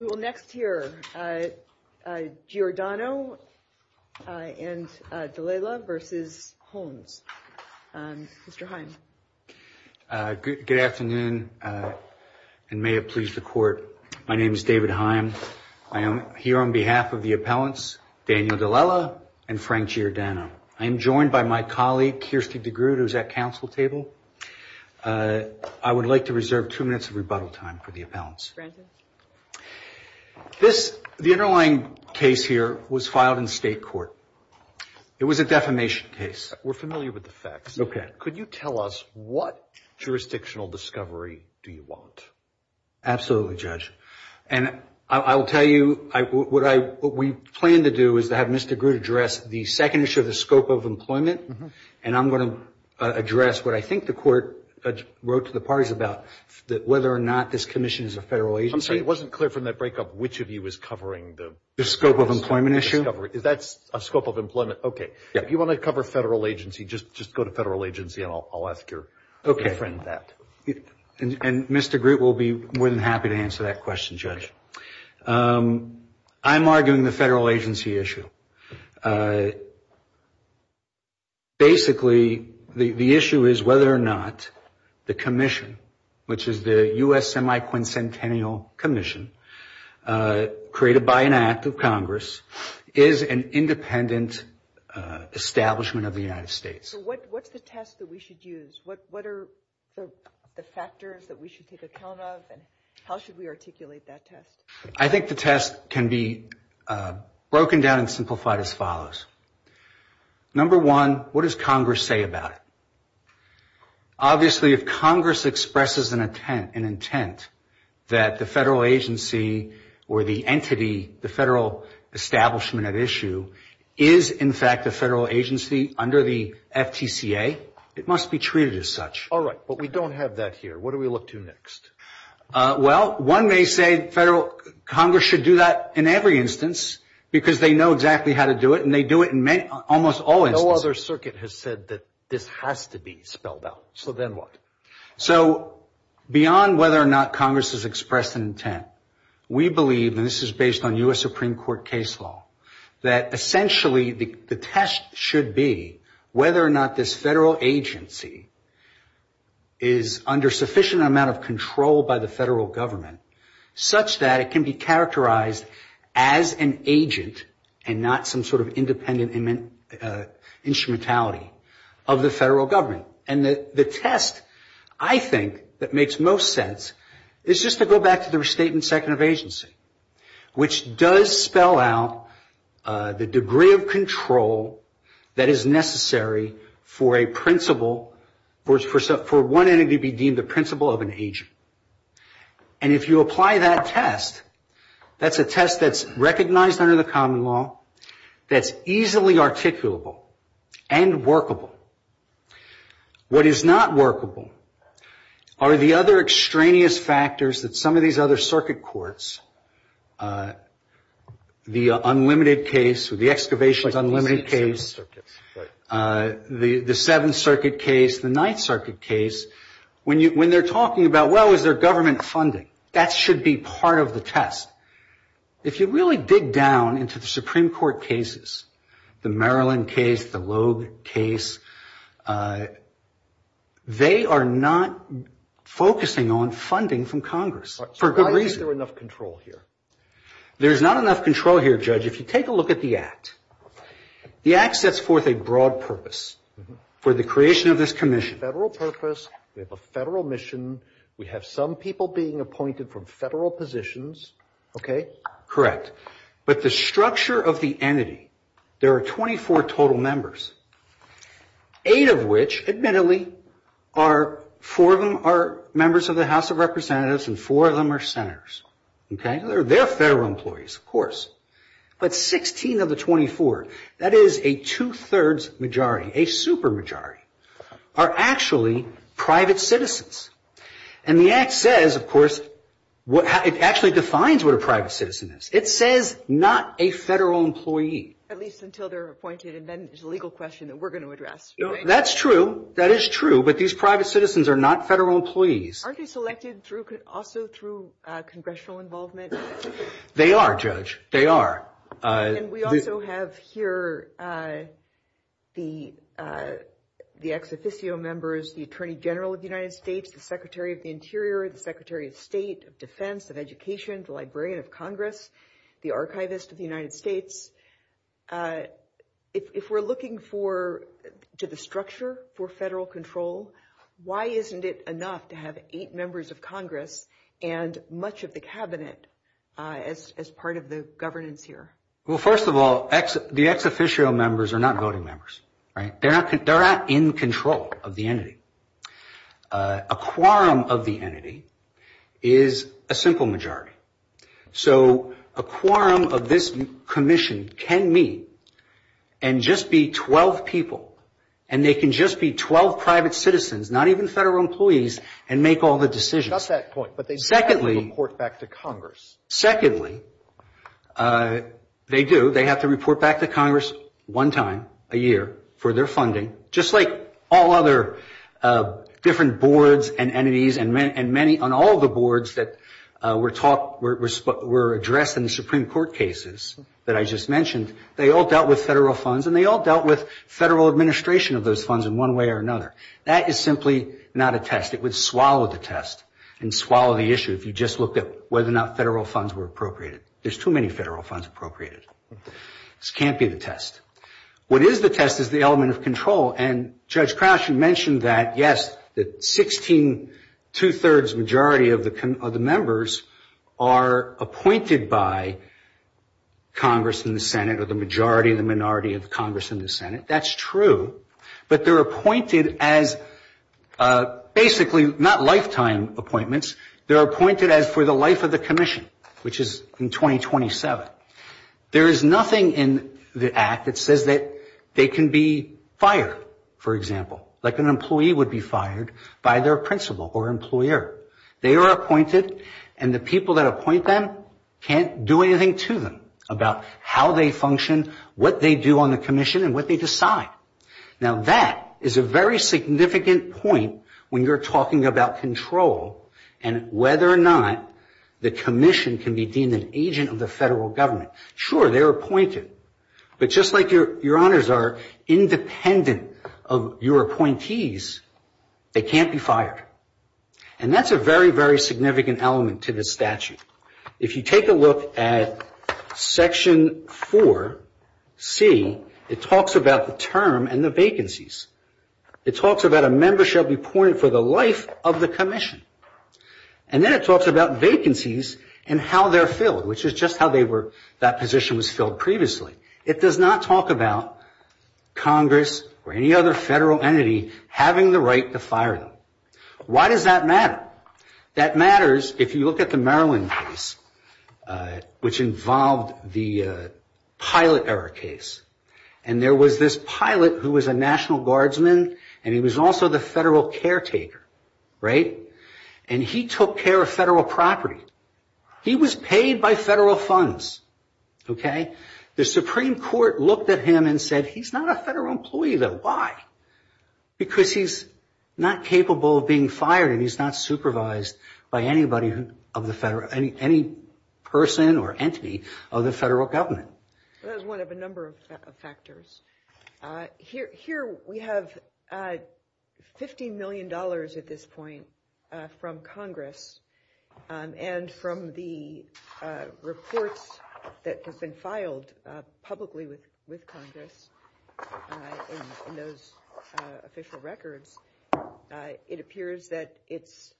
We will next hear Giordano and D'Alela v. Hohns. Mr. Heim. Good afternoon and may it please the court. My name is David Heim. I am here on behalf of the appellants Daniel D'Alela and Frank Giordano. I am joined by my colleague Kirstie DeGroote who is at council table. I would like to reserve two minutes of rebuttal time for the appellants. The underlying case here was filed in state court. It was a defamation case. We are familiar with the facts. Could you tell us what jurisdictional discovery do you want? Absolutely, Judge. And I will tell you what we plan to do is to have Mr. DeGroote address the second issue of the scope of employment. And I'm going to address what I think the court wrote to the parties about whether or not this commission is a federal agency. I'm sorry, it wasn't clear from that break up which of you was covering the scope of employment issue. Is that a scope of employment? Okay. If you want to cover federal agency, just go to federal agency and I'll ask your friend that. And Mr. DeGroote will be more than happy to answer that question, Judge. I'm arguing the federal agency issue. Basically, the issue is whether or not the commission, which is the U.S. Semi-Quincentennial Commission, created by an act of Congress, is an independent establishment of the United States. What's the test that we should use? What are the factors that we should take account of? And how should we articulate that test? I think the test can be broken down and simplified as follows. Number one, what does Congress say about it? Obviously, if Congress expresses an intent that the federal agency or the entity, the federal establishment at issue, is in fact a federal agency under the FTCA, it must be treated as such. All right. But we don't have that here. What do we look to next? Well, one may say Congress should do that in every instance because they know exactly how to do it, and they do it in almost all instances. No other circuit has said that this has to be spelled out. So then what? So beyond whether or not Congress has expressed an intent, we believe, and this is based on U.S. Supreme Court case law, that essentially the test should be whether or not this federal agency is under sufficient amount of control by the federal government such that it can be characterized as an agent and not some sort of independent instrumentality of the federal government. And the test, I think, that makes most sense is just to go back to the restatement second of agency, which does spell out the degree of control that is necessary for a principle, for one entity to be deemed the principle of an agent. And if you apply that test, that's a test that's recognized under the common law, that's easily articulable and workable. What is not workable are the other extraneous factors that some of these other circuit courts, the unlimited case or the excavations unlimited case, the Seventh Circuit case, the Ninth Circuit case, when they're talking about, well, is there government funding? That should be part of the test. If you really dig down into the Supreme Court cases, the Maryland case, the Loeb case, they are not focusing on funding from Congress for good reason. So why is there enough control here? There's not enough control here, Judge. If you take a look at the Act, the Act sets forth a broad purpose for the creation of this commission. We have a federal purpose. We have a federal mission. We have some people being appointed from federal positions. Okay? But the structure of the entity, there are 24 total members, eight of which, admittedly, four of them are members of the House of Representatives and four of them are senators. Okay? They're federal employees, of course. But 16 of the 24, that is a two-thirds majority, a super majority, are actually private citizens. And the Act says, of course, it actually defines what a private citizen is. It says not a federal employee. At least until they're appointed, and then it's a legal question that we're going to address. That's true. That is true. But these private citizens are not federal employees. Aren't they selected also through congressional involvement? They are, Judge. They are. And we also have here the ex officio members, the Attorney General of the United States, the Secretary of the Interior, the Secretary of State, of Defense, of Education, the Librarian of Congress, the Archivist of the United States. If we're looking to the structure for federal control, why isn't it enough to have eight members of Congress and much of the Cabinet as part of the governance here? Well, first of all, the ex officio members are not voting members. Right? They're not in control of the entity. A quorum of the entity is a simple majority. So a quorum of this commission can meet and just be 12 people, and they can just be 12 private citizens, not even federal employees, and make all the decisions. I got that point. But they do have to report back to Congress. Secondly, they do. They have to report back to Congress one time a year for their funding, just like all other different boards and entities and many on all the boards that were addressed in the Supreme Court cases that I just mentioned. They all dealt with federal funds, and they all dealt with federal administration of those funds in one way or another. That is simply not a test. It would swallow the test and swallow the issue if you just looked at whether or not federal funds were appropriated. There's too many federal funds appropriated. This can't be the test. What is the test is the element of control, and Judge Crouch had mentioned that, yes, the two-thirds majority of the members are appointed by Congress and the Senate or the majority and the minority of Congress and the Senate. That's true. But they're appointed as basically not lifetime appointments. They're appointed as for the life of the commission, which is in 2027. There is nothing in the act that says that they can be fired, for example, like an employee would be fired by their principal or employer. They are appointed, and the people that appoint them can't do anything to them about how they function, what they do on the commission, and what they decide. Now, that is a very significant point when you're talking about control and whether or not the commission can be deemed an agent of the federal government. Sure, they're appointed. But just like your honors are independent of your appointees, they can't be fired. And that's a very, very significant element to this statute. If you take a look at Section 4C, it talks about the term and the vacancies. It talks about a member shall be appointed for the life of the commission. And then it talks about vacancies and how they're filled, which is just how that position was filled previously. It does not talk about Congress or any other federal entity having the right to fire them. Why does that matter? That matters if you look at the Maryland case, which involved the pilot error case. And there was this pilot who was a National Guardsman, and he was also the federal caretaker, right? And he took care of federal property. He was paid by federal funds, okay? The Supreme Court looked at him and said, he's not a federal employee, though. Why? Because he's not capable of being fired and he's not supervised by anybody of the federal – any person or entity of the federal government. That is one of a number of factors. Here we have $50 million at this point from Congress and from the reports that have been filed publicly with Congress in those official records, it appears that it's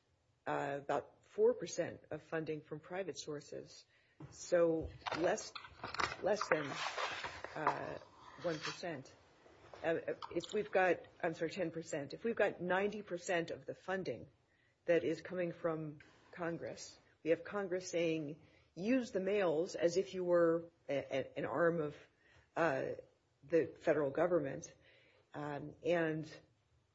about 4 percent of funding from private sources, so less than 1 percent. If we've got – I'm sorry, 10 percent. If we've got 90 percent of the funding that is coming from Congress, we have Congress saying, use the mails as if you were an arm of the federal government, and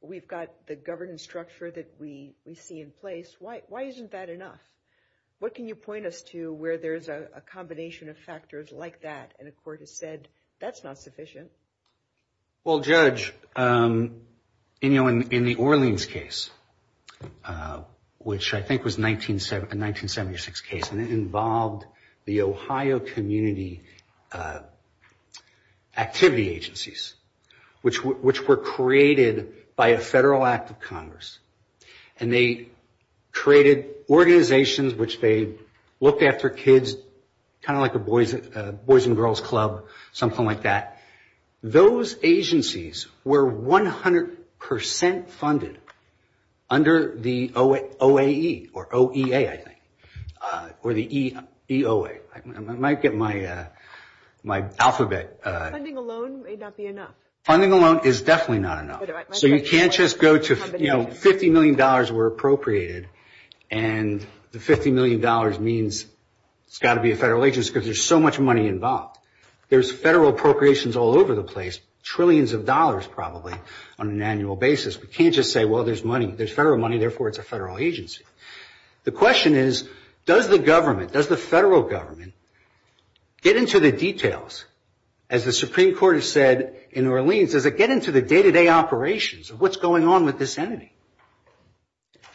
we've got the governance structure that we see in place. Why isn't that enough? What can you point us to where there's a combination of factors like that, and a court has said, that's not sufficient? Well, Judge, in the Orleans case, which I think was a 1976 case, and it involved the Ohio community activity agencies, which were created by a federal act of Congress, and they created organizations which they looked after kids, kind of like a boys and girls club, something like that. Those agencies were 100 percent funded under the OAE or OEA, I think, or the EOA. I might get my alphabet. Funding alone may not be enough. Funding alone is definitely not enough. So you can't just go to, you know, $50 million were appropriated, and the $50 million means it's got to be a federal agency, because there's so much money involved. There's federal appropriations all over the place, trillions of dollars probably, on an annual basis. We can't just say, well, there's money. There's federal money, therefore it's a federal agency. The question is, does the government, does the federal government, get into the details? As the Supreme Court has said in Orleans, does it get into the day-to-day operations of what's going on with this entity?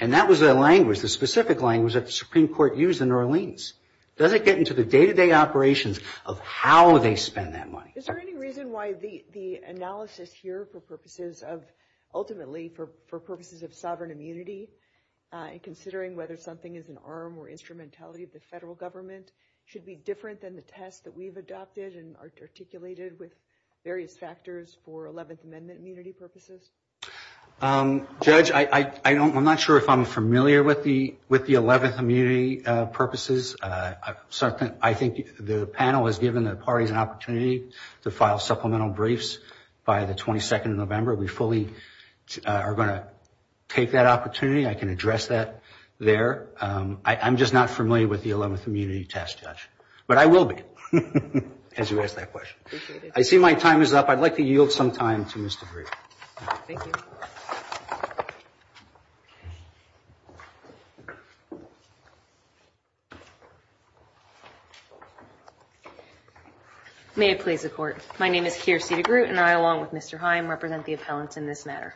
And that was the language, the specific language that the Supreme Court used in Orleans. Does it get into the day-to-day operations of how they spend that money? Is there any reason why the analysis here for purposes of, ultimately for purposes of sovereign immunity, considering whether something is an arm or instrumentality of the federal government, should be different than the test that we've adopted and articulated with various factors for 11th Amendment immunity purposes? Judge, I'm not sure if I'm familiar with the 11th immunity purposes. I think the panel has given the parties an opportunity to file supplemental briefs by the 22nd of November. We fully are going to take that opportunity. I can address that there. I'm just not familiar with the 11th immunity test, Judge. But I will be, as you ask that question. I see my time is up. I'd like to yield some time to Mr. DeGroote. Thank you. May it please the Court. My name is Keira C. DeGroote, and I, along with Mr. Heim, represent the appellants in this matter.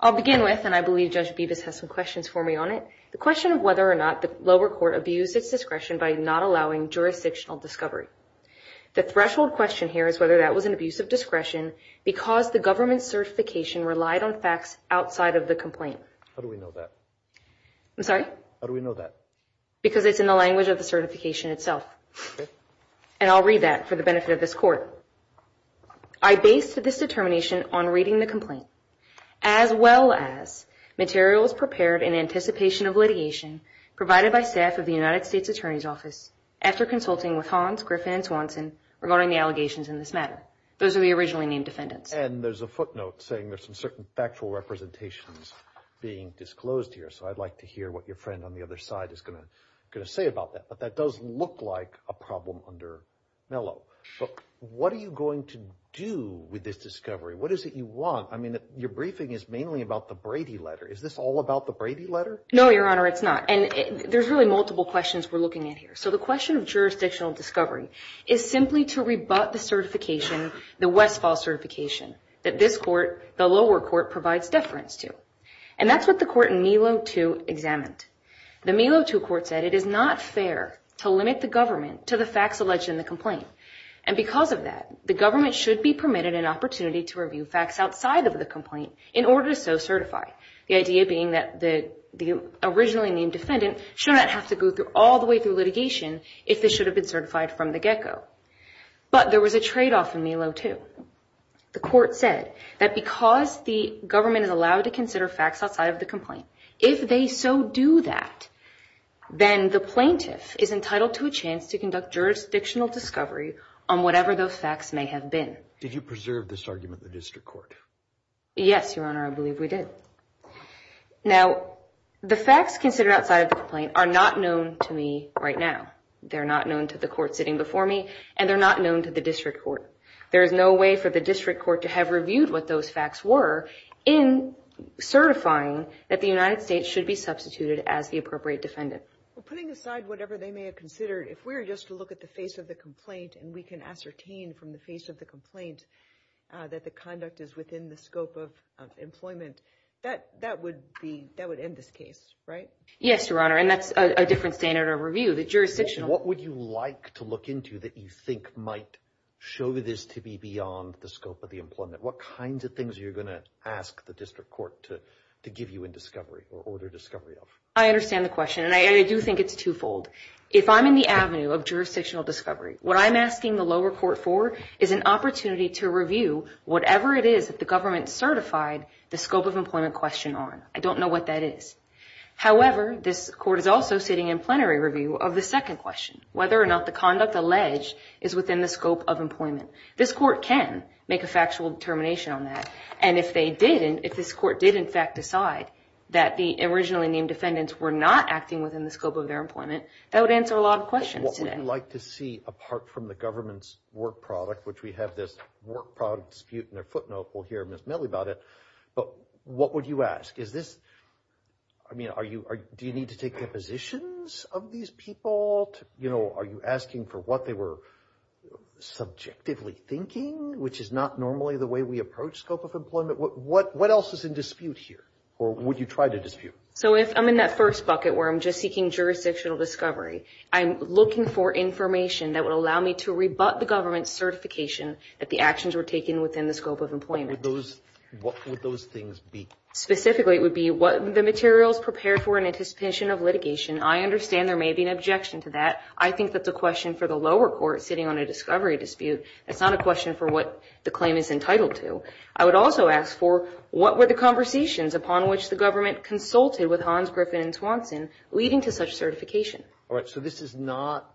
I'll begin with, and I believe Judge Bevis has some questions for me on it, the question of whether or not the lower court abused its discretion by not allowing jurisdictional discovery. The threshold question here is whether that was an abuse of discretion because the government's certification relied on facts outside of the complaint. How do we know that? I'm sorry? How do we know that? Because it's in the language of the certification itself. Okay. And I'll read that for the benefit of this Court. I based this determination on reading the complaint, as well as materials prepared in anticipation of litigation provided by staff of the United States Attorney's Office after consulting with Hans, Griffin, and Swanson regarding the allegations in this matter. Those are the originally named defendants. And there's a footnote saying there's some certain factual representations being disclosed here, so I'd like to hear what your friend on the other side is going to say about that. But that does look like a problem under Mello. But what are you going to do with this discovery? What is it you want? I mean, your briefing is mainly about the Brady letter. Is this all about the Brady letter? No, Your Honor, it's not. And there's really multiple questions we're looking at here. So the question of jurisdictional discovery is simply to rebut the certification, the Westfall certification, that this Court, the lower court, provides deference to. And that's what the court in Mello 2 examined. The Mello 2 court said it is not fair to limit the government to the facts alleged in the complaint. And because of that, the government should be permitted an opportunity to review facts outside of the complaint in order to so certify, the idea being that the originally named defendant should not have to go all the way through litigation if they should have been certified from the get-go. But there was a trade-off in Mello 2. The court said that because the government is allowed to consider facts outside of the complaint, if they so do that, then the plaintiff is entitled to a chance to conduct jurisdictional discovery on whatever those facts may have been. Did you preserve this argument in the district court? Yes, Your Honor, I believe we did. Now, the facts considered outside of the complaint are not known to me right now. They're not known to the court sitting before me, and they're not known to the district court. There is no way for the district court to have reviewed what those facts were in certifying that the United States should be substituted as the appropriate defendant. Well, putting aside whatever they may have considered, if we were just to look at the face of the complaint, and we can ascertain from the face of the complaint that the conduct is within the scope of employment, that would end this case, right? Yes, Your Honor, and that's a different standard of review. What would you like to look into that you think might show this to be beyond the scope of the employment? What kinds of things are you going to ask the district court to give you in discovery or order discovery of? I understand the question, and I do think it's twofold. If I'm in the avenue of jurisdictional discovery, what I'm asking the lower court for is an opportunity to review whatever it is that the government certified the scope of employment question on. I don't know what that is. However, this court is also sitting in plenary review of the second question, whether or not the conduct alleged is within the scope of employment. This court can make a factual determination on that, and if they didn't, if this court did, in fact, decide that the originally named defendants were not acting within the scope of their employment, that would answer a lot of questions today. What would you like to see, apart from the government's work product, which we have this work product dispute in their footnote, we'll hear Ms. Milley about it, but what would you ask? I mean, do you need to take depositions of these people? Are you asking for what they were subjectively thinking, which is not normally the way we approach scope of employment? What else is in dispute here, or would you try to dispute? So if I'm in that first bucket where I'm just seeking jurisdictional discovery, I'm looking for information that would allow me to rebut the government's certification that the actions were taken within the scope of employment. What would those things be? Specifically, it would be what the materials prepared for in anticipation of litigation. I understand there may be an objection to that. I think that's a question for the lower court sitting on a discovery dispute. That's not a question for what the claim is entitled to. I would also ask for what were the conversations upon which the government consulted with Hans, Griffin, and Swanson leading to such certification. All right, so this is not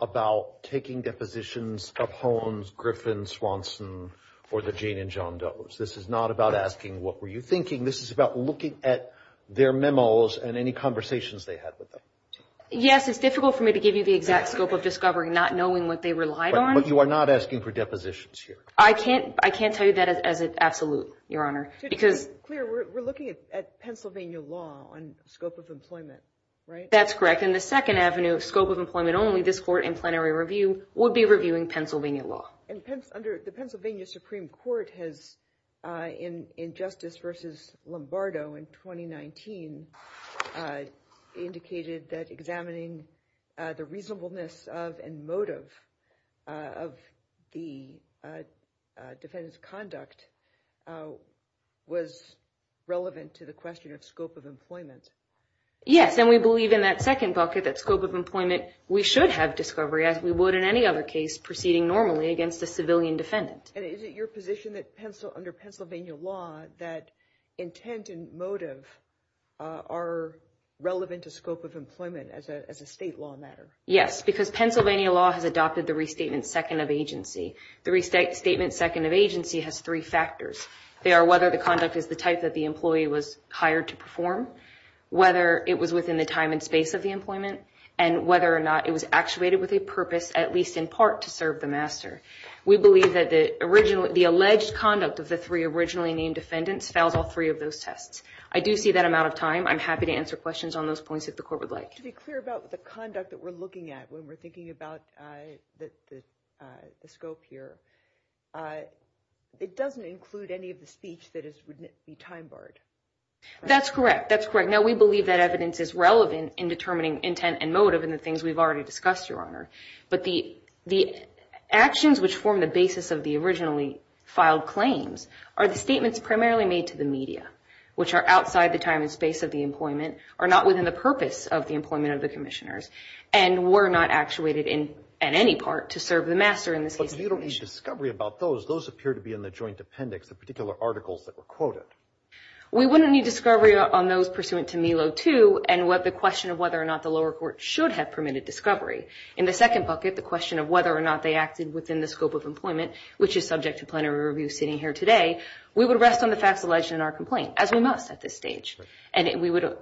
about taking depositions of Hans, Griffin, Swanson, or the Jane and John Doe. This is not about asking what were you thinking. This is about looking at their memos and any conversations they had with them. Yes, it's difficult for me to give you the exact scope of discovery, not knowing what they relied on. But you are not asking for depositions here. I can't tell you that as an absolute, Your Honor. To be clear, we're looking at Pennsylvania law on scope of employment, right? That's correct. In the second avenue, scope of employment only, this court in plenary review would be reviewing Pennsylvania law. Under the Pennsylvania Supreme Court has, in justice versus Lombardo in 2019, indicated that examining the reasonableness of and motive of the defendant's conduct was relevant to the question of scope of employment. Yes, and we believe in that second bucket, that scope of employment, we should have discovery as we would in any other case proceeding normally against a civilian defendant. And is it your position that under Pennsylvania law that intent and motive are relevant to scope of employment as a state law matter? Yes, because Pennsylvania law has adopted the restatement second of agency. The restatement second of agency has three factors. They are whether the conduct is the type that the employee was hired to perform, whether it was within the time and space of the employment, and whether or not it was actuated with a purpose at least in part to serve the master. We believe that the alleged conduct of the three originally named defendants fails all three of those tests. I do see that I'm out of time. I'm happy to answer questions on those points if the court would like. To be clear about the conduct that we're looking at when we're thinking about the scope here, it doesn't include any of the speech that would be time barred. That's correct. That's correct. Now, we believe that evidence is relevant in determining intent and motive in the things we've already discussed, Your Honor. But the actions which form the basis of the originally filed claims are the statements primarily made to the media, which are outside the time and space of the employment, are not within the purpose of the employment of the commissioners, and were not actuated in any part to serve the master in this case. But you don't need discovery about those. Those appear to be in the joint appendix, the particular articles that were quoted. We wouldn't need discovery on those pursuant to MILO 2 and the question of whether or not the lower court should have permitted discovery. In the second bucket, the question of whether or not they acted within the scope of employment, which is subject to plenary review sitting here today, we would rest on the facts alleged in our complaint, as we must at this stage. And we would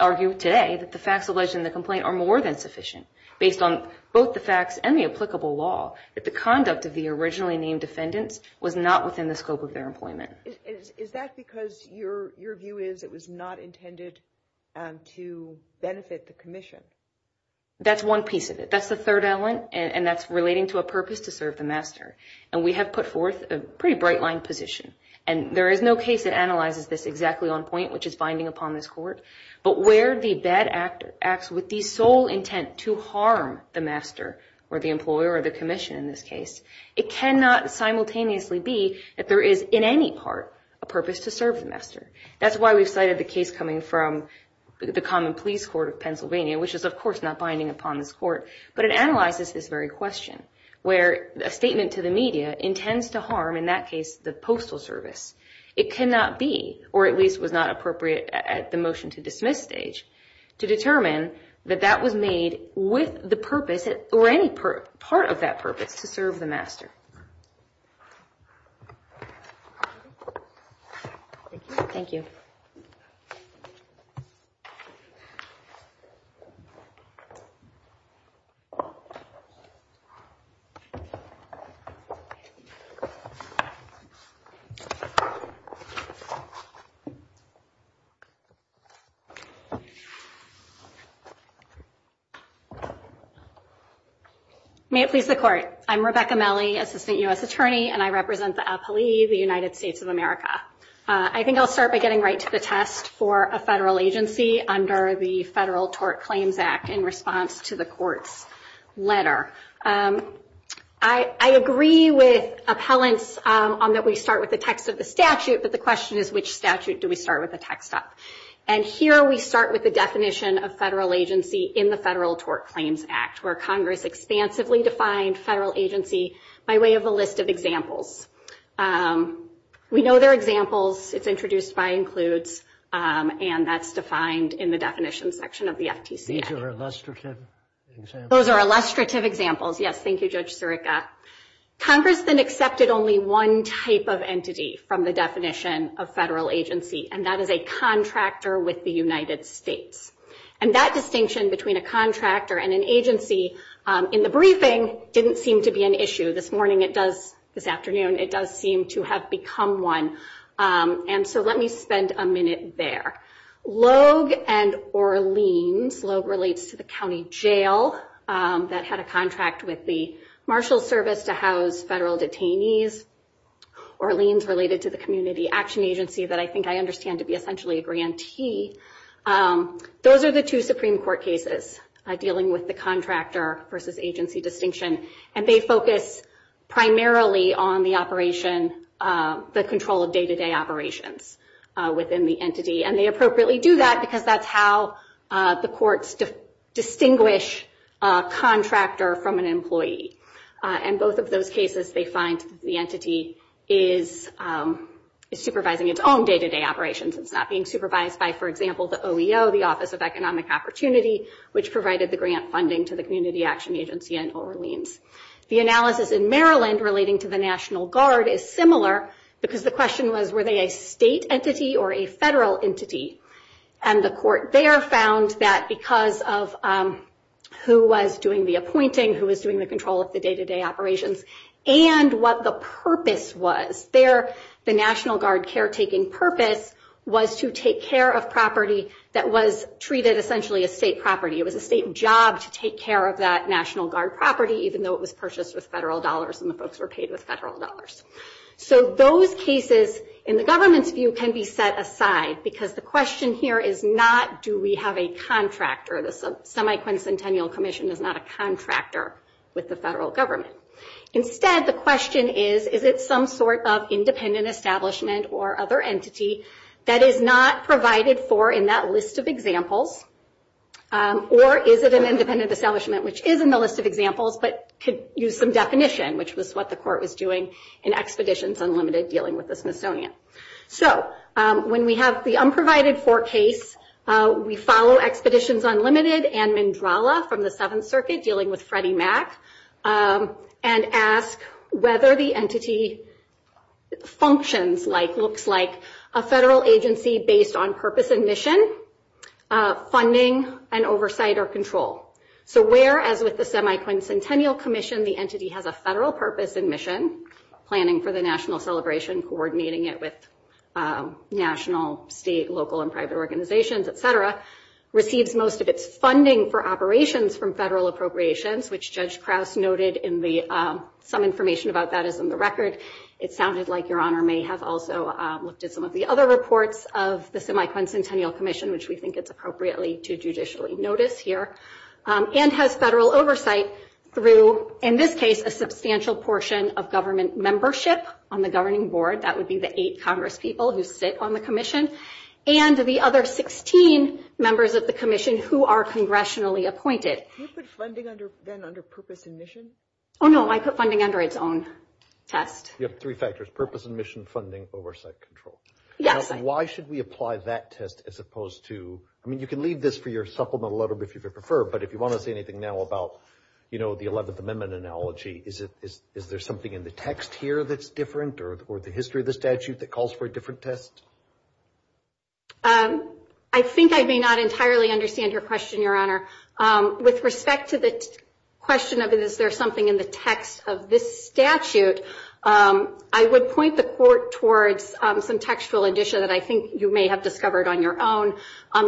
argue today that the facts alleged in the complaint are more than sufficient, based on both the facts and the applicable law, that the conduct of the originally named defendants was not within the scope of their employment. Is that because your view is it was not intended to benefit the commission? That's one piece of it. That's the third element, and that's relating to a purpose to serve the master. And we have put forth a pretty bright-lined position. And there is no case that analyzes this exactly on point, which is binding upon this court. But where the bad act acts with the sole intent to harm the master or the employer or the commission in this case, it cannot simultaneously be that there is, in any part, a purpose to serve the master. That's why we've cited the case coming from the common police court of Pennsylvania, which is, of course, not binding upon this court. But it analyzes this very question, where a statement to the media intends to harm, in that case, the postal service. It cannot be, or at least was not appropriate at the motion to dismiss stage, to determine that that was made with the purpose or any part of that purpose to serve the master. Thank you. May it please the Court. I'm Rebecca Melle, Assistant U.S. Attorney, and I represent the appellee, the United States of America. I think I'll start by getting right to the test for a federal agency under the Federal Tort Claims Act in response to the Court's letter. I agree with appellants on that we start with the text of the statute, but the question is, which statute do we start with the text of? And here we start with the definition of federal agency in the Federal Tort Claims Act, where Congress expansively defined federal agency by way of a list of examples. We know there are examples. It's introduced by includes, and that's defined in the definition section of the FTC Act. These are illustrative examples? Those are illustrative examples, yes. Thank you, Judge Sirica. Congress then accepted only one type of entity from the definition of federal agency, and that is a contractor with the United States. And that distinction between a contractor and an agency in the briefing didn't seem to be an issue. This morning it does. This afternoon it does seem to have become one. And so let me spend a minute there. Logue and Orleans. Logue relates to the county jail that had a contract with the Marshal Service to house federal detainees. Orleans related to the Community Action Agency that I think I understand to be essentially a grantee. Those are the two Supreme Court cases dealing with the contractor versus agency distinction, and they focus primarily on the operation, the control of day-to-day operations within the entity. And they appropriately do that because that's how the courts distinguish a contractor from an employee. And both of those cases they find the entity is supervising its own day-to-day operations. It's not being supervised by, for example, the OEO, the Office of Economic Opportunity, which provided the grant funding to the Community Action Agency in Orleans. The analysis in Maryland relating to the National Guard is similar because the question was, were they a state entity or a federal entity? And the court there found that because of who was doing the appointing, who was doing the control of the day-to-day operations, and what the purpose was. The National Guard caretaking purpose was to take care of property that was treated essentially as state property. It was a state job to take care of that National Guard property, even though it was purchased with federal dollars and the folks were paid with federal dollars. So those cases in the government's view can be set aside because the question here is not, do we have a contractor? The Semi-Quincentennial Commission is not a contractor with the federal government. Instead, the question is, is it some sort of independent establishment or other entity that is not provided for in that list of examples? Or is it an independent establishment which is in the list of examples but could use some definition, which was what the court was doing in Expeditions Unlimited dealing with the Smithsonian. So when we have the unprovided-for case, we follow Expeditions Unlimited and Mindrala from the Seventh Circuit dealing with Freddie Mac, and ask whether the entity functions like, looks like, a federal agency based on purpose and mission, funding, and oversight or control. So where, as with the Semi-Quincentennial Commission, the entity has a federal purpose and mission, planning for the national celebration, coordinating it with national, state, local, and private organizations, et cetera, receives most of its funding for operations from federal appropriations, which Judge Krause noted some information about that is in the record. It sounded like Your Honor may have also looked at some of the other reports of the Semi-Quincentennial Commission, which we think it's appropriately to judicially notice here, and has federal oversight through, in this case, a substantial portion of government membership on the governing board. That would be the eight congresspeople who sit on the commission, and the other 16 members of the commission who are congressionally appointed. You put funding then under purpose and mission? Oh, no, I put funding under its own test. You have three factors, purpose and mission, funding, oversight, control. Yes. And why should we apply that test as opposed to, I mean, you can leave this for your supplemental letter if you prefer, but if you want to say anything now about, you know, the 11th Amendment analogy, is there something in the text here that's different or the history of the statute that calls for a different test? I think I may not entirely understand your question, Your Honor. With respect to the question of is there something in the text of this statute, I would point the court towards some textual addition that I think you may have discovered on your own,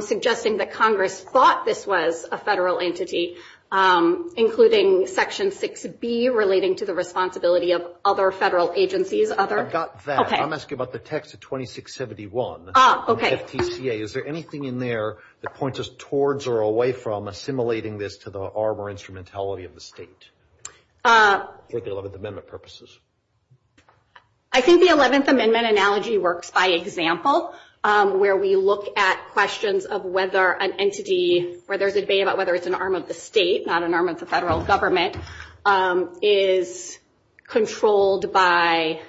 suggesting that Congress thought this was a federal entity, including Section 6B relating to the responsibility of other federal agencies. I've got that. Okay. I'm asking about the text of 2671. Okay. Is there anything in there that points us towards or away from assimilating this to the arm or instrumentality of the state for the 11th Amendment purposes? I think the 11th Amendment analogy works by example, where we look at questions of whether an entity where there's a debate about whether it's an arm of the state, not an arm of the federal government, is controlled by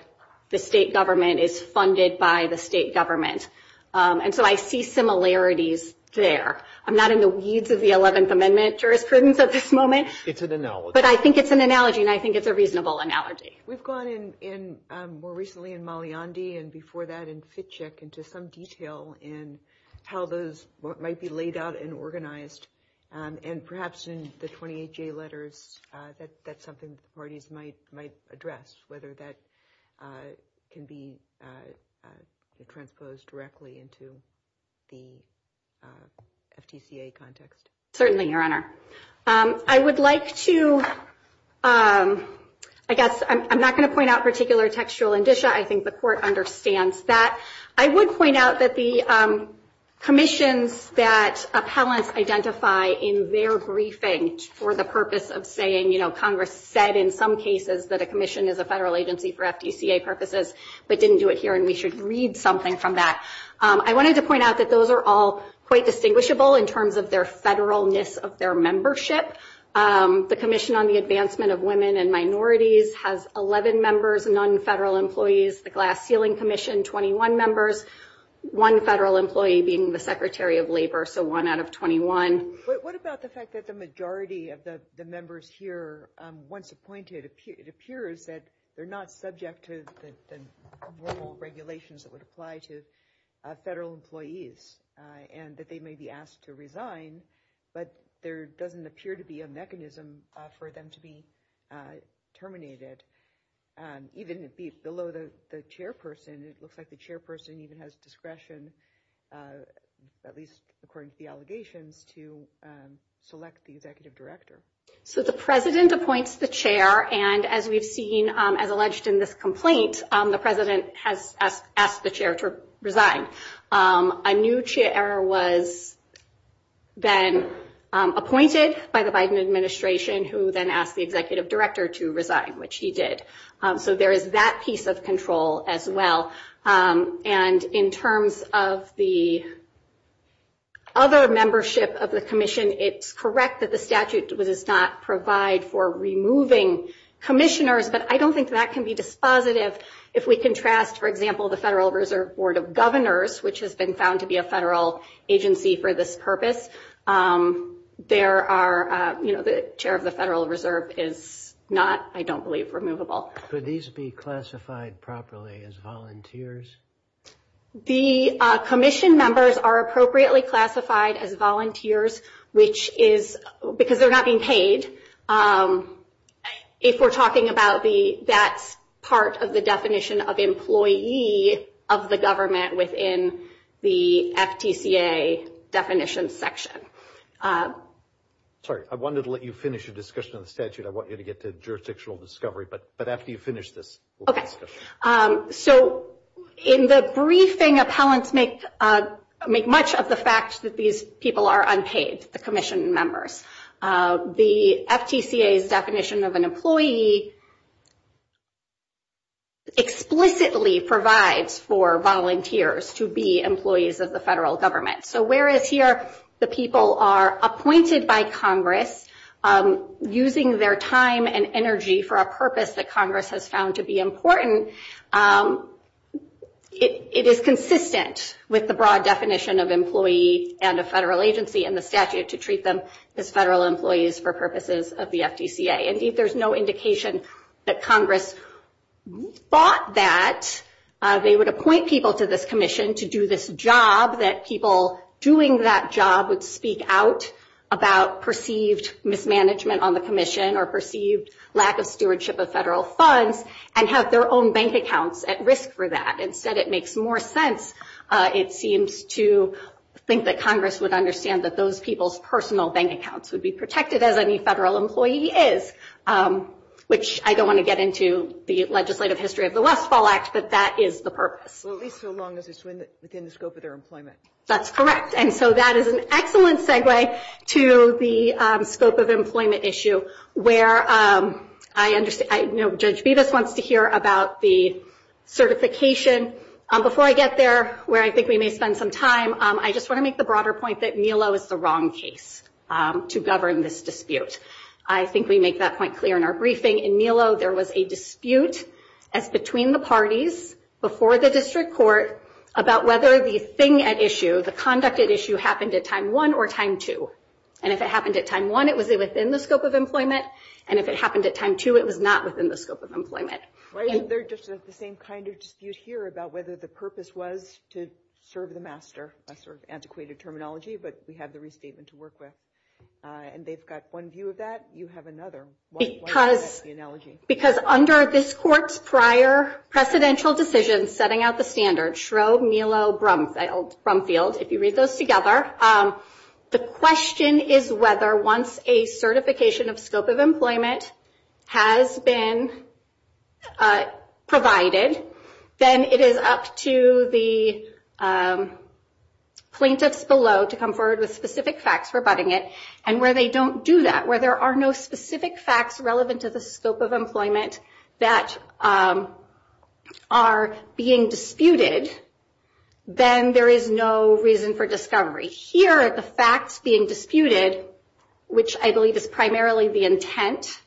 the state government, is funded by the state government. And so I see similarities there. I'm not in the weeds of the 11th Amendment jurisprudence at this moment. It's an analogy. But I think it's an analogy, and I think it's a reasonable analogy. We've gone in more recently in Maliandi and before that in Fitcheck into some detail in how those might be laid out and organized, and perhaps in the 28J letters, that's something the parties might address, whether that can be transposed directly into the FTCA context. Certainly, Your Honor. I would like to, I guess I'm not going to point out particular textual indicia. I think the Court understands that. I would point out that the commissions that appellants identify in their briefing for the purpose of saying, you know, Congress said in some cases that a commission is a federal agency for FTCA purposes, but didn't do it here, and we should read something from that. I wanted to point out that those are all quite distinguishable in terms of their federalness of their membership. The Commission on the Advancement of Women and Minorities has 11 members, none federal employees. The Glass Ceiling Commission, 21 members, one federal employee being the Secretary of Labor, so one out of 21. What about the fact that the majority of the members here, once appointed, it appears that they're not subject to the normal regulations that would apply to federal employees, and that they may be asked to resign, but there doesn't appear to be a mechanism for them to be terminated. Even below the chairperson, it looks like the chairperson even has discretion, at least according to the allegations, to select the executive director. So the president appoints the chair, and as we've seen, as alleged in this complaint, the president has asked the chair to resign. A new chair was then appointed by the Biden administration, who then asked the executive director to resign, which he did. So there is that piece of control as well. And in terms of the other membership of the commission, it's correct that the statute does not provide for removing commissioners, but I don't think that can be dispositive if we contrast, for example, the Federal Reserve Board of Governors, which has been found to be a federal agency for this purpose. There are, you know, the chair of the Federal Reserve is not, I don't believe, removable. Could these be classified properly as volunteers? The commission members are appropriately classified as volunteers, which is because they're not being paid, if we're talking about that part of the definition of employee of the government within the FTCA definition section. Sorry, I wanted to let you finish your discussion on the statute. I want you to get to jurisdictional discovery, but after you finish this. So in the briefing, appellants make much of the fact that these people are unpaid, the commission members. The FTCA's definition of an employee explicitly provides for volunteers to be employees of the federal government. So whereas here the people are appointed by Congress using their time and energy for a purpose that Congress has found to be important, it is consistent with the broad definition of employee and a federal agency and the statute to treat them as federal employees for purposes of the FTCA. Indeed, there's no indication that Congress thought that they would appoint people to this commission to do this job, that people doing that job would speak out about perceived mismanagement on the commission or perceived lack of stewardship of federal funds and have their own bank accounts at risk for that. Instead, it makes more sense, it seems, to think that Congress would understand that those people's personal bank accounts would be protected as any federal employee is, which I don't want to get into the legislative history of the Westfall Act, but that is the purpose. Well, at least so long as it's within the scope of their employment. That's correct. And so that is an excellent segue to the scope of employment issue where I understand, I know Judge Bevis wants to hear about the certification. Before I get there, where I think we may spend some time, I just want to make the broader point that Milo is the wrong case to govern this dispute. I think we make that point clear in our briefing. In Milo, there was a dispute as between the parties before the district court about whether the thing at issue, the conduct at issue, happened at time one or time two. And if it happened at time one, it was within the scope of employment. And if it happened at time two, it was not within the scope of employment. Why isn't there just the same kind of dispute here about whether the purpose was to serve the master, a sort of antiquated terminology, but we have the restatement to work with. And they've got one view of that. You have another. Why is that the analogy? Because under this court's prior precedential decision setting out the standard, Shro, Milo, Brumfield, if you read those together, the question is whether once a certification of scope of employment has been provided, then it is up to the plaintiffs below to come forward with specific facts rebutting it. And where they don't do that, where there are no specific facts relevant to the scope of employment that are being disputed, then there is no reason for discovery. Here, the facts being disputed, which I believe is primarily the intent,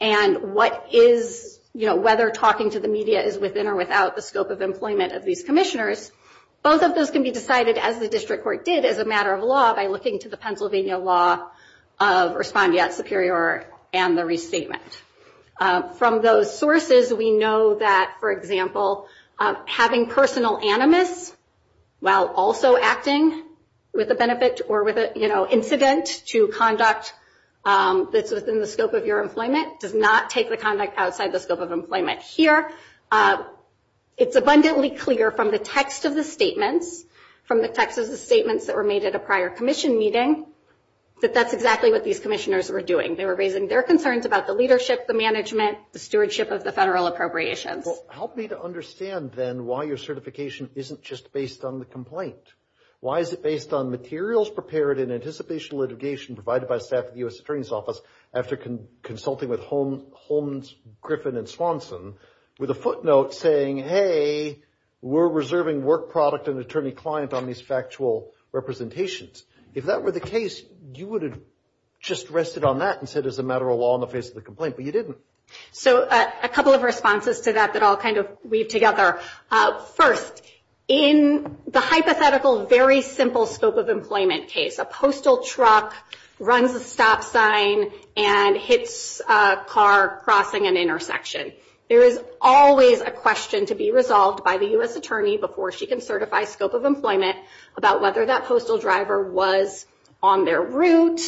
and what is, you know, whether talking to the media is within or without the scope of employment of these commissioners, both of those can be decided, as the district court did, as a matter of law, by looking to the Pennsylvania law of respondeat superior and the restatement. From those sources, we know that, for example, having personal animus while also acting with the benefit or with an incident to conduct that's within the scope of your employment does not take the conduct outside the scope of employment. Here, it's abundantly clear from the text of the statements, from the text of the statements that were made at a prior commission meeting, that that's exactly what these commissioners were doing. They were raising their concerns about the leadership, the management, the stewardship of the federal appropriations. Well, help me to understand, then, why your certification isn't just based on the complaint. Why is it based on materials prepared in anticipation litigation provided by staff at the U.S. Attorney's Office after consulting with Holmes, Griffin, and Swanson with a footnote saying, hey, we're reserving work product and attorney client on these factual representations. If that were the case, you would have just rested on that and said it's a matter of law in the face of the complaint, but you didn't. So a couple of responses to that that all kind of weave together. First, in the hypothetical, very simple scope of employment case, a postal truck runs a stop sign and hits a car crossing an intersection. There is always a question to be resolved by the U.S. Attorney before she can certify scope of employment about whether that postal driver was on their route,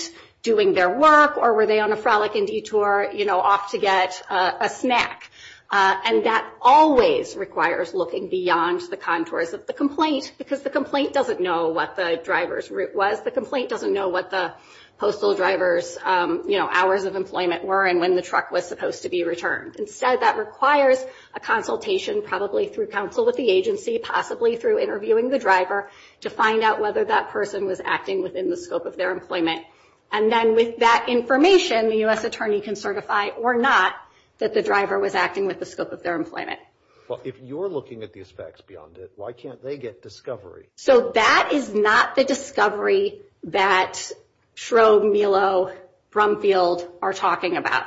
doing their work, or were they on a frolic and detour, you know, off to get a snack. And that always requires looking beyond the contours of the complaint because the complaint doesn't know what the driver's route was. The complaint doesn't know what the postal driver's, you know, hours of employment were and when the truck was supposed to be returned. Instead, that requires a consultation, probably through counsel with the agency, possibly through interviewing the driver, to find out whether that person was acting within the scope of their employment. And then with that information, the U.S. Attorney can certify or not that the driver was acting within the scope of their employment. Well, if you're looking at these facts beyond it, why can't they get discovery? So that is not the discovery that Schrobe, Melo, Brumfield are talking about.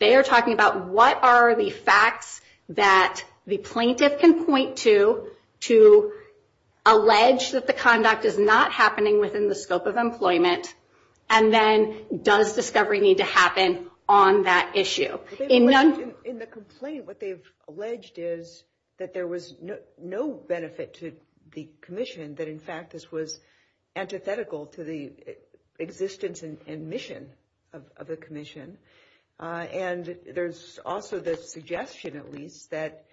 They are talking about what are the facts that the plaintiff can point to to allege that the conduct is not happening within the scope of employment and then does discovery need to happen on that issue. In the complaint, what they've alleged is that there was no benefit to the commission, that, in fact, this was antithetical to the existence and mission of the commission. And there's also the suggestion, at least, that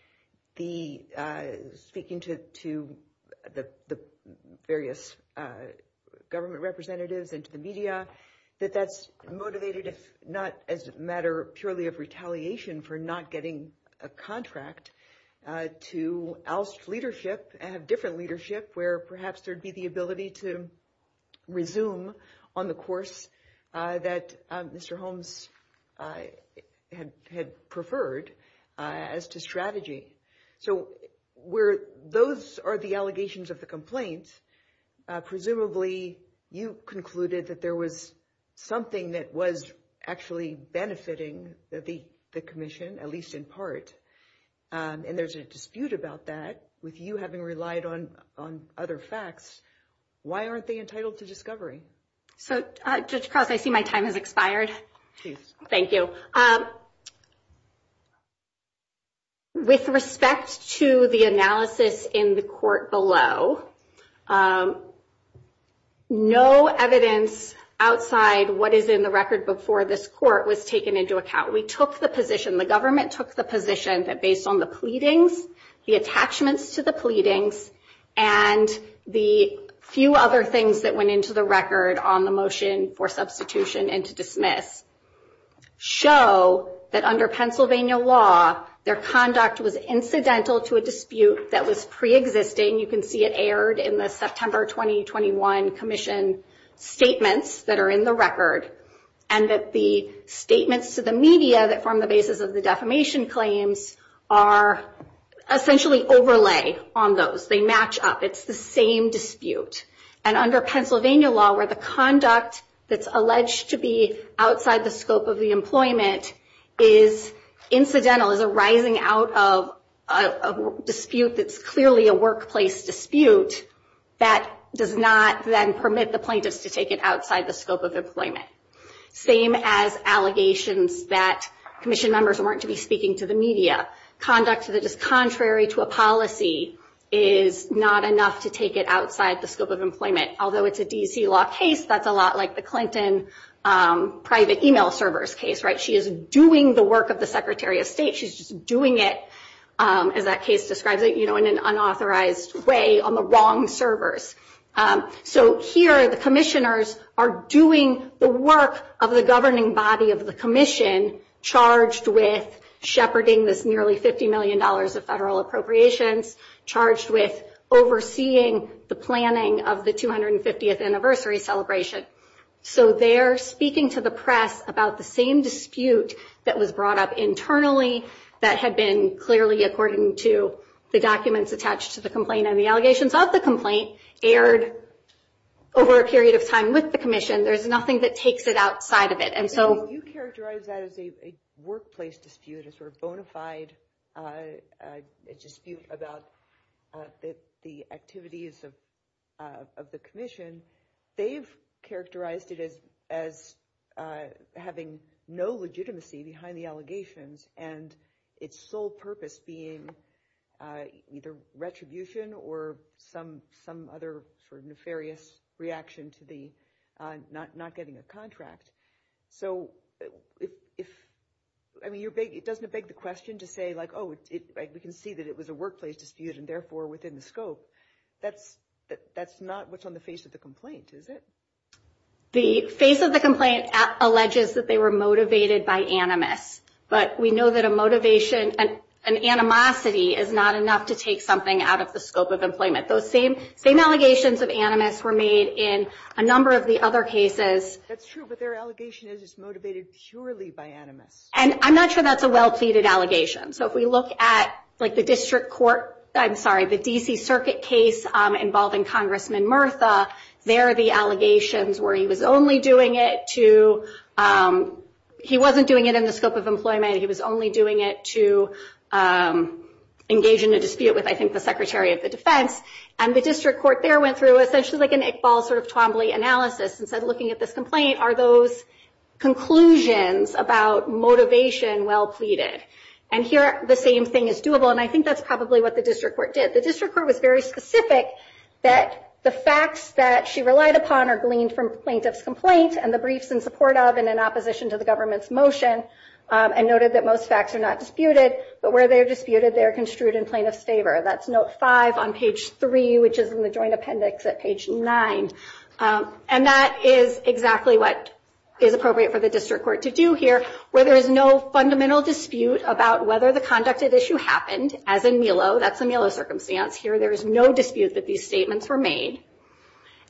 speaking to the various government representatives and to the media, that that's motivated not as a matter purely of retaliation for not getting a contract to oust leadership and have different leadership where perhaps there'd be the ability to resume on the course that Mr. Holmes had preferred as to strategy. So those are the allegations of the complaint. Presumably, you concluded that there was something that was actually benefiting the commission, at least in part, and there's a dispute about that with you having relied on other facts. Why aren't they entitled to discovery? So, Judge Krause, I see my time has expired. Thank you. With respect to the analysis in the court below, no evidence outside what is in the record before this court was taken into account. We took the position, the government took the position, that based on the pleadings, the attachments to the pleadings, and the few other things that went into the record on the motion for substitution and to dismiss, show that under Pennsylvania law, their conduct was incidental to a dispute that was preexisting. You can see it aired in the September 2021 commission statements that are in the record, and that the statements to the media that form the basis of the defamation claims are essentially overlay on those. They match up. It's the same dispute. And under Pennsylvania law, where the conduct that's alleged to be outside the scope of the employment is incidental, is arising out of a dispute that's clearly a workplace dispute, that does not then permit the plaintiffs to take it outside the scope of employment. Same as allegations that commission members weren't to be speaking to the media. Conduct that is contrary to a policy is not enough to take it outside the scope of employment. Although it's a D.C. law case, that's a lot like the Clinton private e-mail servers case, right? She is doing the work of the Secretary of State. She's just doing it, as that case describes it, you know, in an unauthorized way on the wrong servers. So here the commissioners are doing the work of the governing body of the commission, charged with shepherding this nearly $50 million of federal appropriations, charged with overseeing the planning of the 250th anniversary celebration. So they're speaking to the press about the same dispute that was brought up internally, that had been clearly according to the documents attached to the complaint and the allegations of the complaint aired over a period of time with the commission. There's nothing that takes it outside of it. And so you characterize that as a workplace dispute, a sort of bona fide dispute about the activities of the commission. They've characterized it as having no legitimacy behind the allegations and its sole purpose being either retribution or some other sort of nefarious reaction to the not getting a contract. So I mean, it doesn't beg the question to say like, oh, we can see that it was a workplace dispute and therefore within the scope. That's not what's on the face of the complaint, is it? The face of the complaint alleges that they were motivated by animus. But we know that a motivation, an animosity is not enough to take something out of the scope of employment. Those same allegations of animus were made in a number of the other cases. That's true, but their allegation is it's motivated purely by animus. And I'm not sure that's a well-pleaded allegation. So if we look at like the district court, I'm sorry, the D.C. Circuit case involving Congressman Murtha, there are the allegations where he was only doing it to, he wasn't doing it in the scope of employment. He was only doing it to engage in a dispute with, I think, the Secretary of the Defense. And the district court there went through essentially like an Iqbal sort of Twombly analysis and said looking at this complaint, are those conclusions about motivation well-pleaded? And here the same thing is doable. And I think that's probably what the district court did. The district court was very specific that the facts that she relied upon are gleaned from plaintiff's complaint and the briefs in support of and in opposition to the government's motion and noted that most facts are not disputed, but where they are disputed, they are construed in plaintiff's favor. That's note five on page three, which is in the joint appendix at page nine. And that is exactly what is appropriate for the district court to do here, where there is no fundamental dispute about whether the conduct of issue happened, as in Milo, that's a Milo circumstance here, there is no dispute that these statements were made,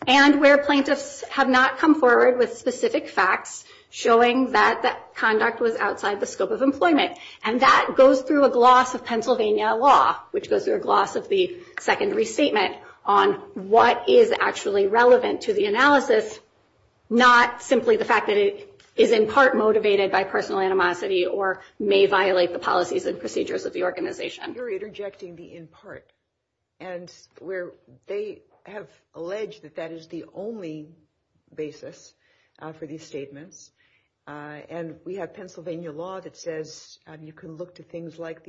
and where plaintiffs have not come forward with specific facts showing that the conduct was outside the scope of employment. And that goes through a gloss of Pennsylvania law, which goes through a gloss of the second restatement on what is actually relevant to the analysis, not simply the fact that it is in part motivated by personal animosity or may violate the policies and procedures of the organization. You're interjecting the in part, and where they have alleged that that is the only basis for these statements. And we have Pennsylvania law that says you can look to things like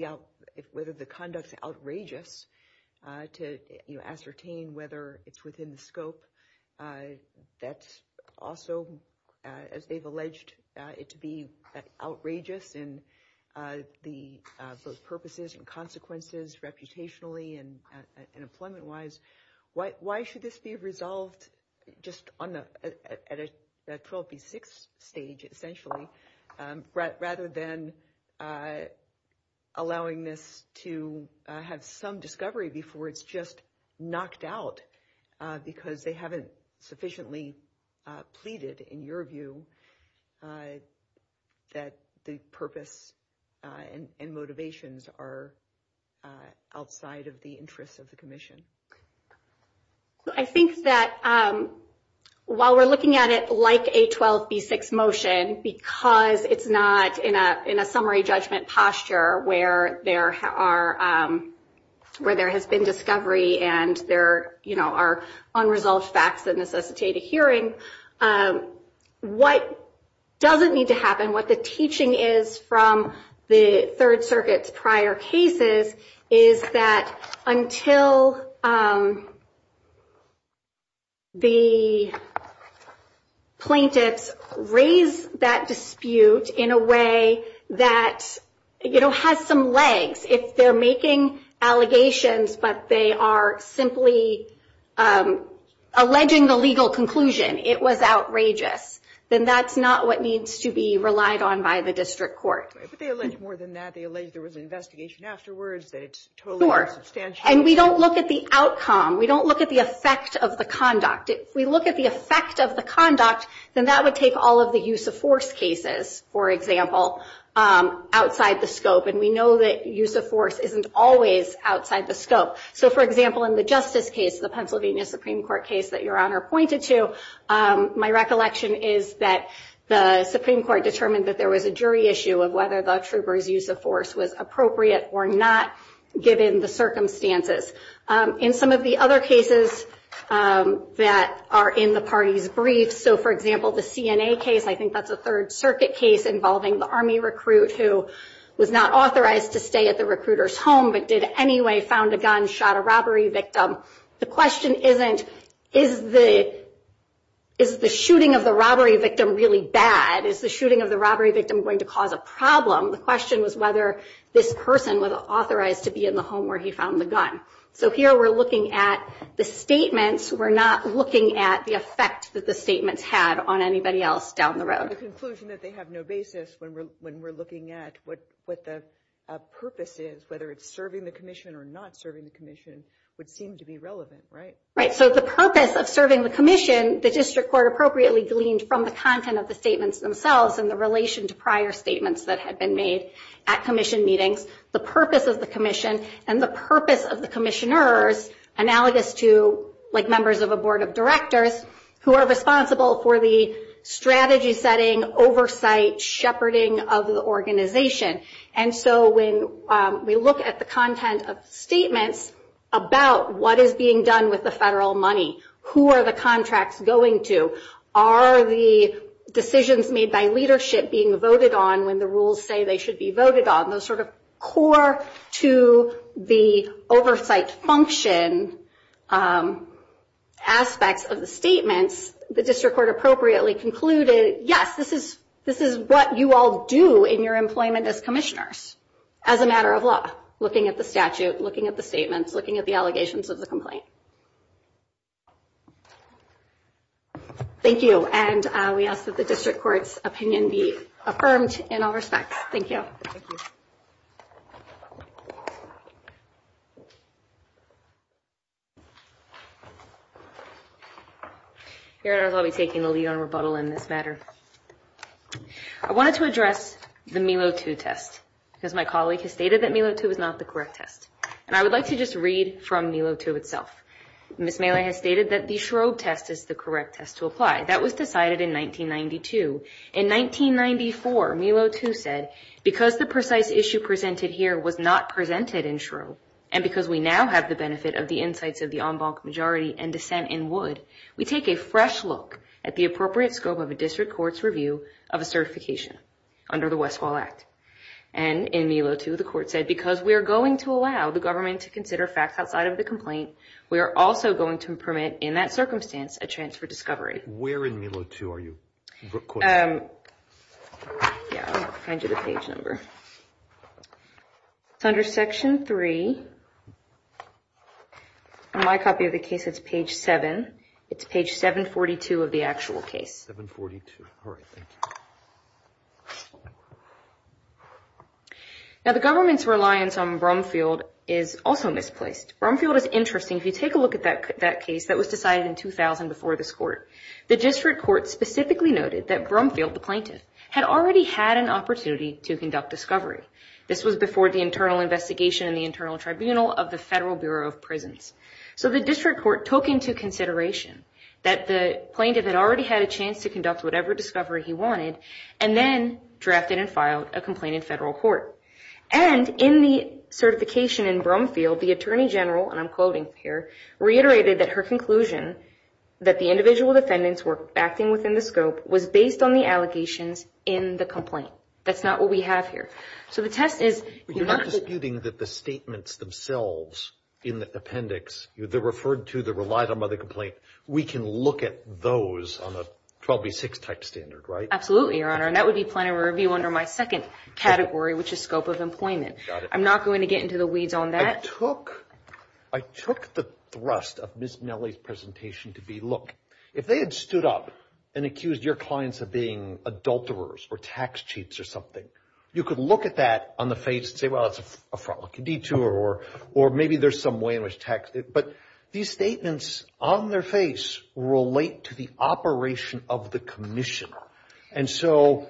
whether the conduct is outrageous to ascertain whether it's within the scope. That's also, as they've alleged it to be outrageous in the purposes and consequences, reputationally and employment wise. Why should this be resolved just on the 12B6 stage, essentially, rather than allowing this to have some discovery before it's just knocked out? Because they haven't sufficiently pleaded, in your view, that the purpose and motivations are outside of the interests of the commission. I think that while we're looking at it like a 12B6 motion, because it's not in a summary judgment posture where there has been discovery and there are unresolved facts that necessitate a hearing, what doesn't need to happen, what the teaching is from the Third Circuit's prior cases, is that until the plaintiffs raise that dispute in a way that has some legs, if they're making allegations but they are simply alleging the legal conclusion it was outrageous, then that's not what needs to be relied on by the district court. But they allege more than that. They allege there was an investigation afterwards, that it's totally unsubstantial. Sure. And we don't look at the outcome. We don't look at the effect of the conduct. If we look at the effect of the conduct, then that would take all of the use of force cases, for example, outside the scope. And we know that use of force isn't always outside the scope. So, for example, in the Justice case, the Pennsylvania Supreme Court case that Your Honor pointed to, my recollection is that the Supreme Court determined that there was a jury issue of whether the trooper's use of force was appropriate or not, given the circumstances. In some of the other cases that are in the parties' briefs, so, for example, the CNA case, I think that's a Third Circuit case involving the Army recruit who was not authorized to stay at the recruiter's home but did anyway found a gun, shot a robbery victim. The question isn't, is the shooting of the robbery victim really bad? Is the shooting of the robbery victim going to cause a problem? The question was whether this person was authorized to be in the home where he found the gun. So here we're looking at the statements. We're not looking at the effect that the statements had on anybody else down the road. The conclusion that they have no basis when we're looking at what the purpose is, whether it's serving the commission or not serving the commission, would seem to be relevant, right? Right. So the purpose of serving the commission, the district court appropriately gleaned from the content of the statements themselves and the relation to prior statements that had been made at commission meetings, the purpose of the commission and the purpose of the commissioners, analogous to like members of a board of directors who are responsible for the strategy setting, oversight, shepherding of the organization. And so when we look at the content of statements about what is being done with the federal money, who are the contracts going to, are the decisions made by leadership being voted on when the rules say they should be voted on, those sort of core to the oversight function aspects of the statements, the district court appropriately concluded, yes, this is what you all do in your employment as commissioners as a matter of law, looking at the statute, looking at the statements, looking at the allegations of the complaint. Thank you. And we ask that the district court's opinion be affirmed in all respects. Thank you. I'll be taking the lead on rebuttal in this matter. I wanted to address the Melo II test, because my colleague has stated that Melo II is not the correct test. And I would like to just read from Melo II itself. Ms. Mailer has stated that the Schrobe test is the correct test to apply. That was decided in 1992. In 1994, Melo II said, because the precise issue presented here was not presented in Schrobe, and because we now have the benefit of the insights of the en banc majority and dissent in Wood, we take a fresh look at the appropriate scope of a district court's review of a certification under the Westfall Act. And in Melo II, the court said, because we are going to allow the government to consider facts outside of the complaint, we are also going to permit, in that circumstance, a chance for discovery. Where in Melo II are you? Yeah, I'll find you the page number. It's under Section 3. On my copy of the case, it's page 7. It's page 742 of the actual case. 742, all right, thank you. Now, the government's reliance on Brumfield is also misplaced. Brumfield is interesting. If you take a look at that case that was decided in 2000 before this court, the district court specifically noted that Brumfield, the plaintiff, had already had an opportunity to conduct discovery. This was before the internal investigation and the internal tribunal of the Federal Bureau of Prisons. So the district court took into consideration that the plaintiff had already had a chance to conduct whatever discovery he wanted and then drafted and filed a complaint in federal court. And in the certification in Brumfield, the Attorney General, and I'm quoting here, reiterated that her conclusion that the individual defendants were acting within the scope was based on the allegations in the complaint. That's not what we have here. So the test is you're not disputing that the statements themselves in the appendix, they're referred to, they're relied on by the complaint. We can look at those on a 12B6 type standard, right? Absolutely, Your Honor. And that would be plenary review under my second category, which is scope of employment. I'm not going to get into the weeds on that. I took the thrust of Ms. Nellie's presentation to be, look, if they had stood up and accused your clients of being adulterers or tax cheats or something, you could look at that on the face and say, well, that's a fraud, a detour, or maybe there's some way in which tax. But these statements on their face relate to the operation of the commission. And so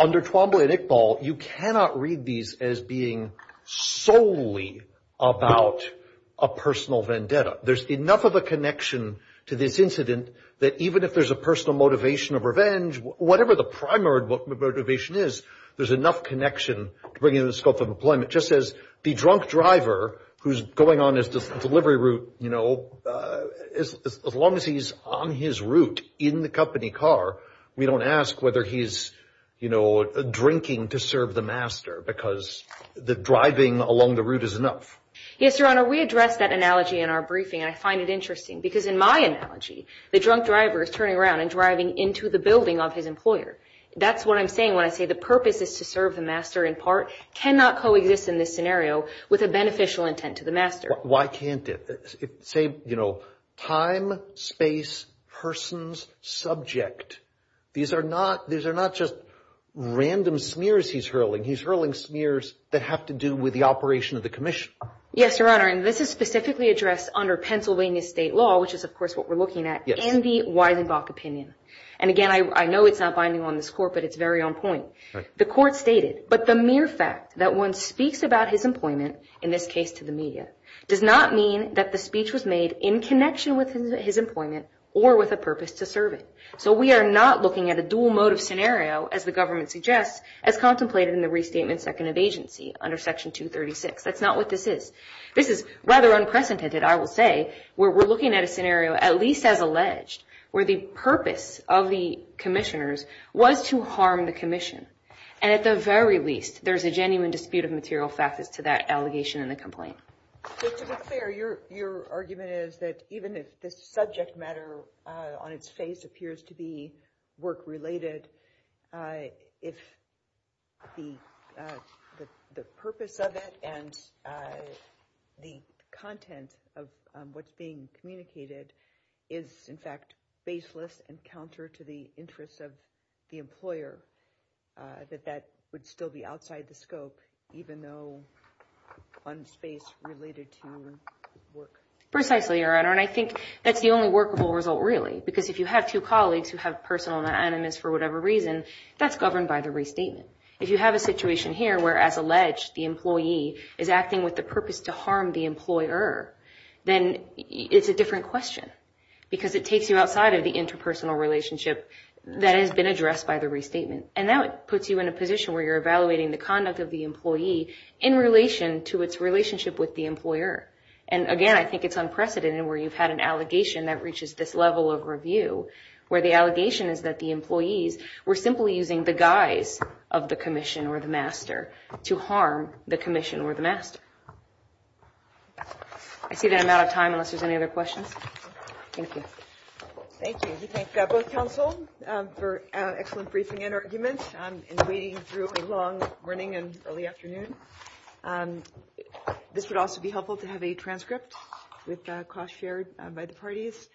under Twombly and Iqbal, you cannot read these as being solely about a personal vendetta. There's enough of a connection to this incident that even if there's a personal motivation of revenge, whatever the primary motivation is, there's enough connection to bring in the scope of employment. Just as the drunk driver who's going on his delivery route, you know, as long as he's on his route in the company car, we don't ask whether he's, you know, drinking to serve the master because the driving along the route is enough. Yes, Your Honor. We addressed that analogy in our briefing, and I find it interesting because in my analogy, the drunk driver is turning around and driving into the building of his employer. That's what I'm saying when I say the purpose is to serve the master in part, cannot coexist in this scenario with a beneficial intent to the master. Why can't it? Say, you know, time, space, persons, subject. These are not just random smears he's hurling. He's hurling smears that have to do with the operation of the commission. Yes, Your Honor, and this is specifically addressed under Pennsylvania state law, which is, of course, what we're looking at in the Weisenbach opinion. And again, I know it's not binding on this Court, but it's very on point. The Court stated, but the mere fact that one speaks about his employment, in this case to the media, does not mean that the speech was made in connection with his employment or with a purpose to serve it. So we are not looking at a dual motive scenario, as the government suggests, as contemplated in the Restatement Second of Agency under Section 236. That's not what this is. This is rather unprecedented, I will say, where we're looking at a scenario, at least as alleged, where the purpose of the commissioners was to harm the commission. And at the very least, there's a genuine dispute of material facts as to that allegation in the complaint. But to be fair, your argument is that even if the subject matter on its face appears to be work-related, if the purpose of it and the content of what's being communicated is, in fact, baseless and counter to the interests of the employer, that that would still be outside the scope, even though on the face related to work. Precisely, Your Honor, and I think that's the only workable result, really, because if you have two colleagues who have personal anonymous for whatever reason, that's governed by the restatement. If you have a situation here where, as alleged, the employee is acting with the purpose to harm the employer, then it's a different question because it takes you outside of the interpersonal relationship that has been addressed by the restatement. And that puts you in a position where you're evaluating the conduct of the employee in relation to its relationship with the employer. And, again, I think it's unprecedented where you've had an allegation that reaches this level of review, where the allegation is that the employees were simply using the guise of the commission or the master to harm the commission or the master. I see that I'm out of time unless there's any other questions. Thank you. Thank you. We thank both counsel for an excellent briefing and argument, and waiting through a long morning and early afternoon. This would also be helpful to have a transcript with cost shared by the parties.